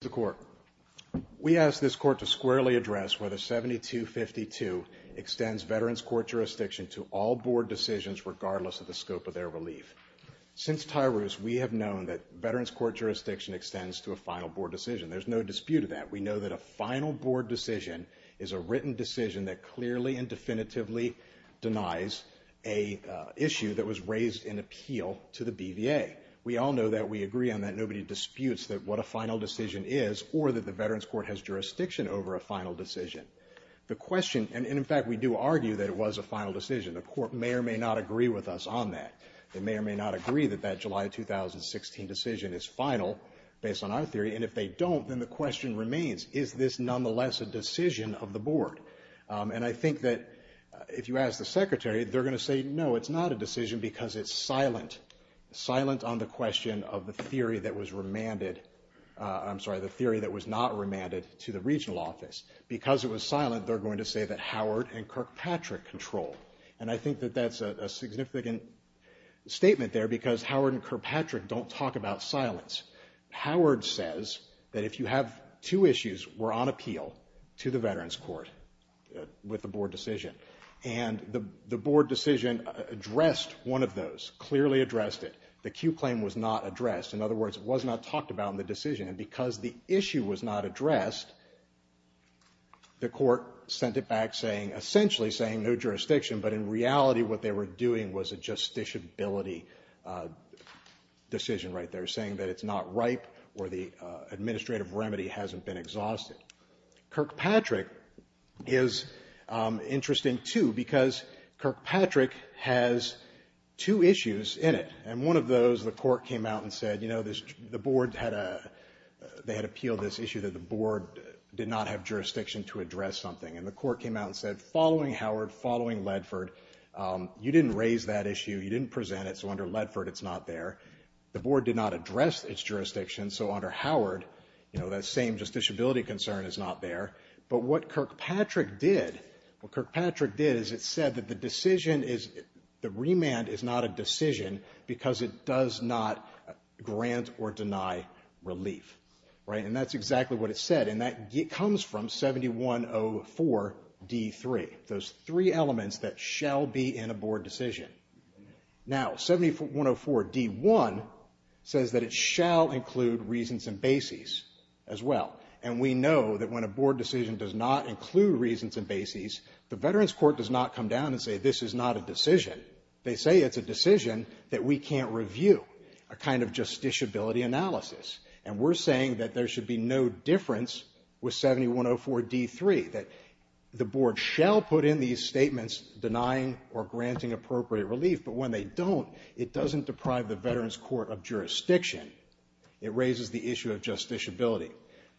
the court. We ask this court to squarely address whether 7252 extends veterans court jurisdiction to all board decisions regardless of the scope of their relief. Since Tyrus, we have known that veterans court jurisdiction extends to a final board decision. There's no dispute of that. We know that a final board decision is a written decision that clearly and definitively denies a issue that was raised in appeal to the BVA. We all know that we agree on that. Nobody disputes that what a final decision is or that the veterans court has jurisdiction over a final decision. The question and in fact we do argue that it was a final decision. The court may or may not agree with us on that. They may or may not agree that that July 2016 decision is final based on our theory and if they don't then the question remains is this nonetheless a decision of the board? And I think that if you ask the secretary they're going to say no it's not a I'm sorry the theory that was not remanded to the regional office. Because it was silent they're going to say that Howard and Kirkpatrick control. And I think that that's a significant statement there because Howard and Kirkpatrick don't talk about silence. Howard says that if you have two issues we're on appeal to the veterans court with the board decision. And the board decision addressed one of those, clearly addressed it. The Q claim was not addressed. In other words was not talked about in the decision. And because the issue was not addressed the court sent it back saying essentially saying no jurisdiction. But in reality what they were doing was a justiciability decision right there saying that it's not ripe or the administrative remedy hasn't been exhausted. Kirkpatrick is interesting too because Kirkpatrick has two the board had a they had appealed this issue that the board did not have jurisdiction to address something. And the court came out and said following Howard following Ledford you didn't raise that issue you didn't present it so under Ledford it's not there. The board did not address its jurisdiction so under Howard you know that same justiciability concern is not there. But what Kirkpatrick did what Kirkpatrick did is it said that the decision is the remand is not a decision because it does not grant or deny relief right. And that's exactly what it said and that comes from 7104 D3 those three elements that shall be in a board decision. Now 7104 D1 says that it shall include reasons and bases as well. And we know that when a board decision does not include reasons and bases the veterans court does not come down and say this is not a decision. They say it's a decision that we can't review a kind of justiciability analysis and we're saying that there should be no difference with 7104 D3 that the board shall put in these statements denying or granting appropriate relief but when they don't it doesn't deprive the veterans court of jurisdiction. It raises the issue of justiciability.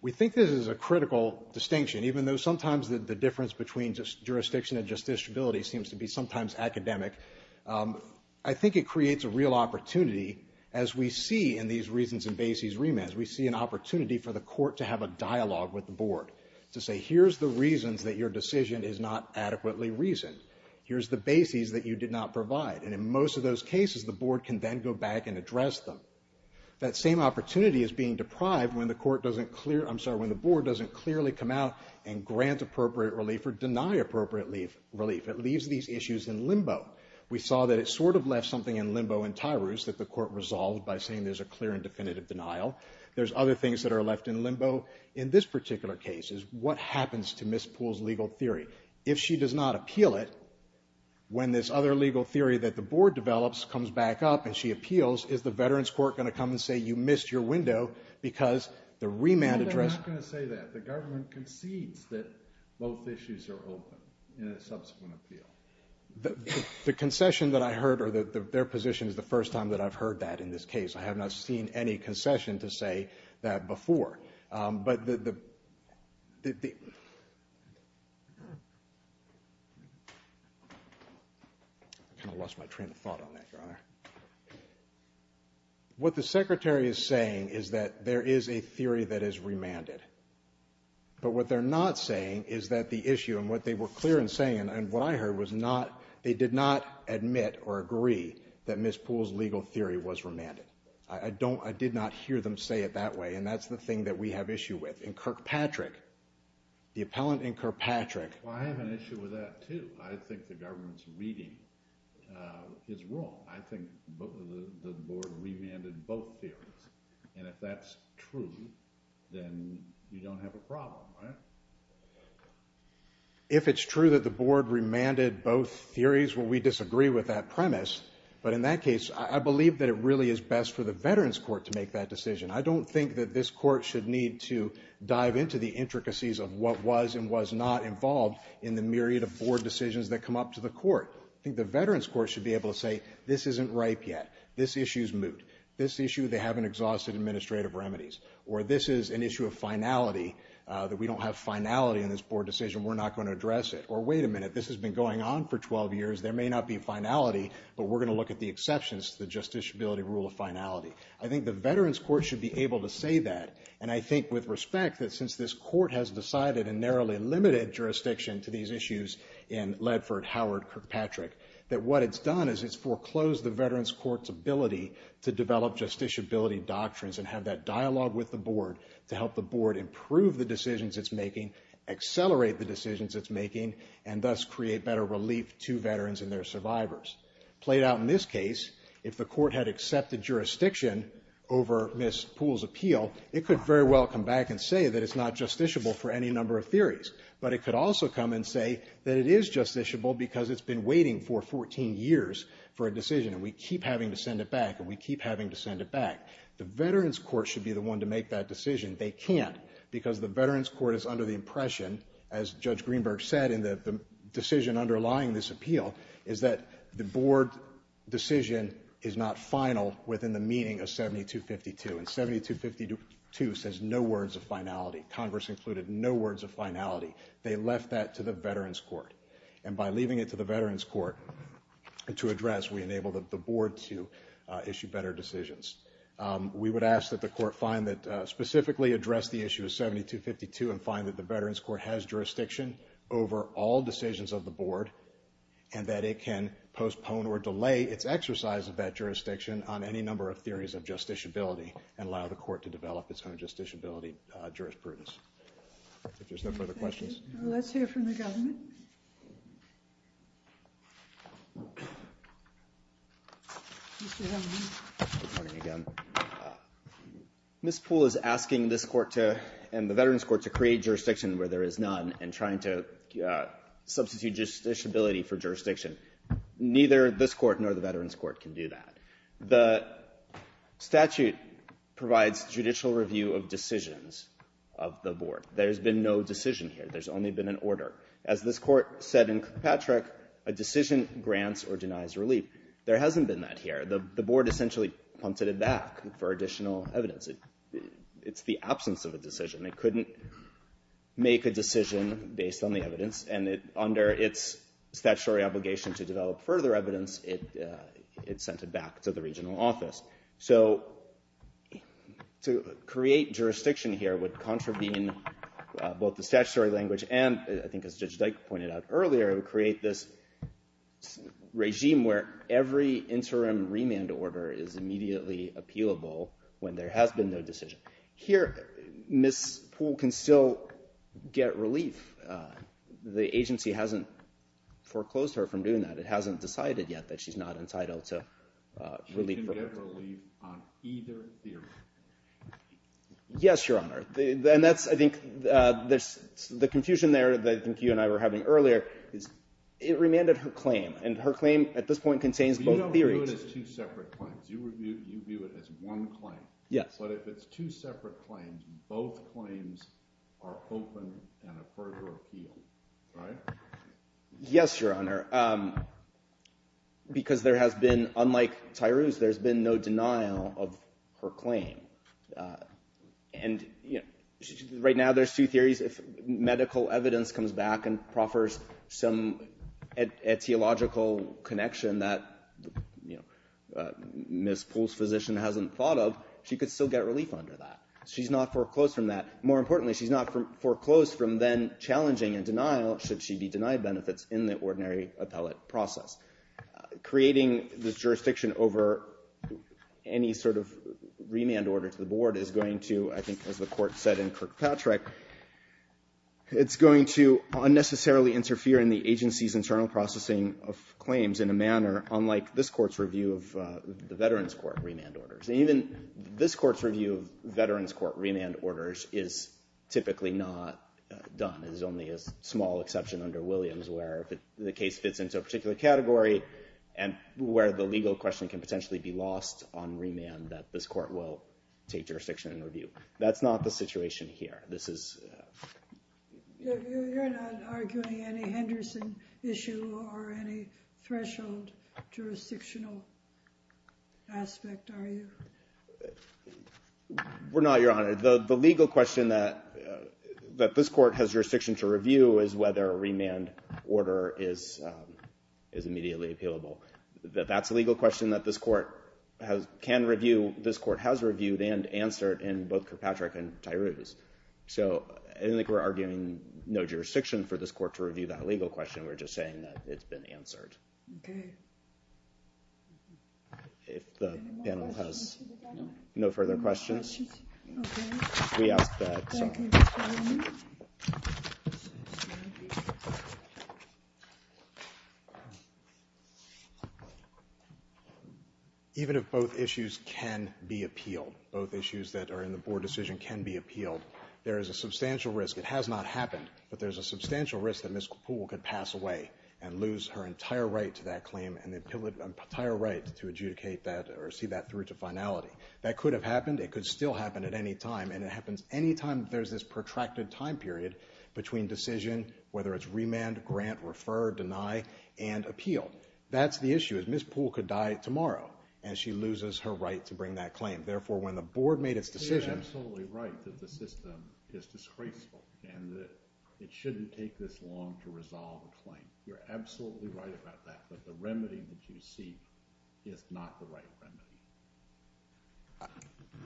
We think this is a critical distinction even though sometimes the difference between just jurisdiction and academic I think it creates a real opportunity as we see in these reasons and bases remands. We see an opportunity for the court to have a dialogue with the board to say here's the reasons that your decision is not adequately reasoned. Here's the bases that you did not provide and in most of those cases the board can then go back and address them. That same opportunity is being deprived when the court doesn't clear I'm sorry when the board doesn't clearly come out and grant appropriate relief or deny appropriate relief. It leaves these issues in limbo. We saw that it sort of left something in limbo in Tyrus that the court resolved by saying there's a clear and definitive denial. There's other things that are left in limbo in this particular case is what happens to Ms. Poole's legal theory. If she does not appeal it when this other legal theory that the board develops comes back up and she appeals is the veterans court going to come and say you addressed. They're not going to say that. The government concedes that both issues are open in a subsequent appeal. The concession that I heard or their position is the first time that I've heard that in this case. I have not seen any concession to say that before. I kind of lost my train of thought on that your honor. What the secretary is saying is that there is a theory that is remanded. But what they're not saying is that the issue and what they were clear in saying and what I heard was not they did not admit or agree that Ms. Poole's legal theory was remanded. I don't I did not hear them say it that way and that's the thing that we have issue with. In Kirkpatrick the appellant in Kirkpatrick. Well I have an issue with that too. I think the government's reading uh is wrong. I think the board remanded both theories and if that's true then you don't have a problem right. If it's true that the board remanded both theories well we disagree with that premise. But in that case I believe that it really is best for the veterans court to make that decision. I don't think that this court should need to dive into the intricacies of what was and was not involved in the myriad of board decisions that come up to the court. I think the veterans court should be able to say this isn't ripe yet. This issue's moot. This issue they haven't exhausted administrative remedies. Or this is an issue of finality that we don't have finality in this board decision we're not going to address it. Or wait a minute this has been going on for 12 years there may not be finality but we're going to look at the exceptions to the justiciability rule of finality. I think the veterans court should be able to say that and I think with respect that since this court has decided a narrowly limited jurisdiction to these issues in Ledford Howard Kirkpatrick that what it's done is it's foreclosed the veterans court's ability to develop justiciability doctrines and have that dialogue with the board to help the board improve the decisions it's making, accelerate the decisions it's making, and thus create better relief to veterans and their survivors. Played out in this case if the and say that it's not justiciable for any number of theories but it could also come and say that it is justiciable because it's been waiting for 14 years for a decision and we keep having to send it back and we keep having to send it back. The veterans court should be the one to make that decision. They can't because the veterans court is under the impression as Judge Greenberg said in the decision underlying this appeal is that the board decision is not final within the says no words of finality. Congress included no words of finality. They left that to the veterans court and by leaving it to the veterans court to address we enable the board to issue better decisions. We would ask that the court find that specifically address the issue of 7252 and find that the veterans court has jurisdiction over all decisions of the board and that it can postpone or delay its exercise of that jurisdiction on any number of theories of justiciability and allow the court to develop its own justiciability jurisprudence. If there's no further questions. Let's hear from the government. Ms. Poole is asking this court and the veterans court to create jurisdiction where there is none and trying to substitute justiciability for jurisdiction. Neither this court nor the veterans court can do that. The statute provides judicial review of decisions of the board. There's been no decision here. There's only been an order. As this court said in Kirkpatrick, a decision grants or denies relief. There hasn't been that here. The board essentially punted it back for additional evidence. It's the absence of a decision. It couldn't make a decision based on the evidence and under its statutory obligation to develop further evidence, it sent it back to the regional office. So to create jurisdiction here would contravene both the statutory language and I think as Judge Dyke pointed out earlier, it would create this regime where every interim remand order is immediately appealable when there has been no decision. Here, Ms. Poole can still get relief the agency hasn't foreclosed her from doing that. It hasn't decided yet that she's not entitled to relief. She can get relief on either theory? Yes, your honor. And that's I think the confusion there that I think you and I were having earlier is it remanded her claim and her claim at this point contains both theories. You don't view it as two separate claims. You view it as one claim. Yes. But if it's two separate claims, both claims are open and a further appeal, right? Yes, your honor. Because there has been, unlike Tyrus, there's been no denial of her claim. Right now there's two theories. If medical evidence comes back and proffers some etiological connection that Ms. Poole's physician hasn't thought of, she could still get relief under that. She's not foreclosed from that. More importantly, she's not foreclosed from then challenging and denial should she be denied benefits in the ordinary appellate process. Creating this jurisdiction over any sort of remand order to the board is going to, I think as the Court said in Kirkpatrick, it's going to unnecessarily interfere in the agency's internal processing of claims in a manner unlike this Court's review of the Veterans Court remand orders. Even this Court's review of Veterans Court remand orders is typically not done. There's only a small exception under Williams where the case fits into a particular category and where the legal question can potentially be lost on remand that this Court will take jurisdiction and review. That's not the situation here. You're not arguing any Henderson issue or any threshold jurisdictional aspect, are you? We're not, Your Honor. The legal question that this Court has jurisdiction to review is whether a remand order is immediately appealable. That's a legal question that this Court has reviewed and answered in both Kirkpatrick and Tyrouse. I don't think we're arguing no jurisdiction for this Court to review that legal question. We're just saying that it's been answered. Okay. If the panel has no further questions, we ask that... Even if both issues can be appealed, both issues that are in the Board decision can be appealed, there is a substantial risk. It has not happened, but there's a substantial risk that Ms. Capullo could pass away and lose her entire right to that claim and the entire right to adjudicate that or see that through to finality. That could have happened. It could still happen at any time, and it happens any time there's this protracted time period between decision, whether it's remand, grant, refer, deny, and appeal. That's the issue. Ms. Poole could die tomorrow and she loses her right to bring that claim. Therefore, when the Board made its decision... You're absolutely right that the system is disgraceful and that it shouldn't take this long to resolve a claim. You're absolutely right about that, but the remedy that you seek is not the right remedy.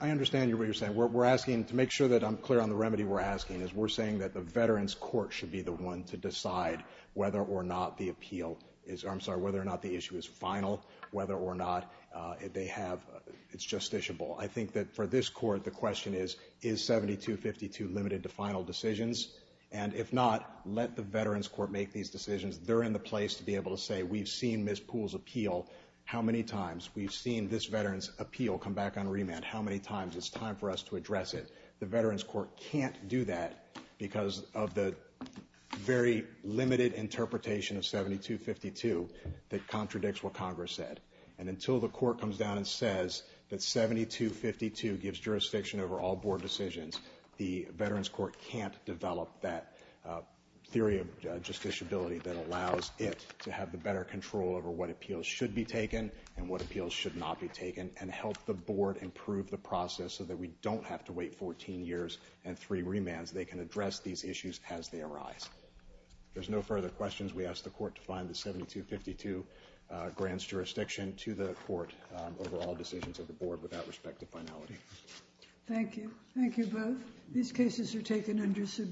I understand what you're saying. We're asking to make sure that I'm clear on the remedy we're asking, is we're saying that the Veterans Court should be the one to decide whether or not the appeal is... I'm sorry, whether or not the issue is final, whether or not it's justiciable. I think that for this Court, the question is, is 7252 limited to final decisions? And if not, let the Veterans Court make these decisions. They're in the place to be able to say, we've seen Ms. Poole's appeal how many times? We've seen this Veterans appeal come back on remand how many times? It's time for us to address it. The Veterans Court can't do that because of the very limited interpretation of 7252 that contradicts what Congress said. And until the Court comes down and says that 7252 gives jurisdiction over all Board decisions, the Veterans Court can't develop that theory of that allows it to have the better control over what appeals should be taken and what appeals should not be taken and help the Board improve the process so that we don't have to wait 14 years and three remands. They can address these issues as they arise. There's no further questions. We ask the Court to find the 7252 grants jurisdiction to the Court over all decisions of the Board without respect to finality. Thank you. Thank you both. These cases are taken under submission.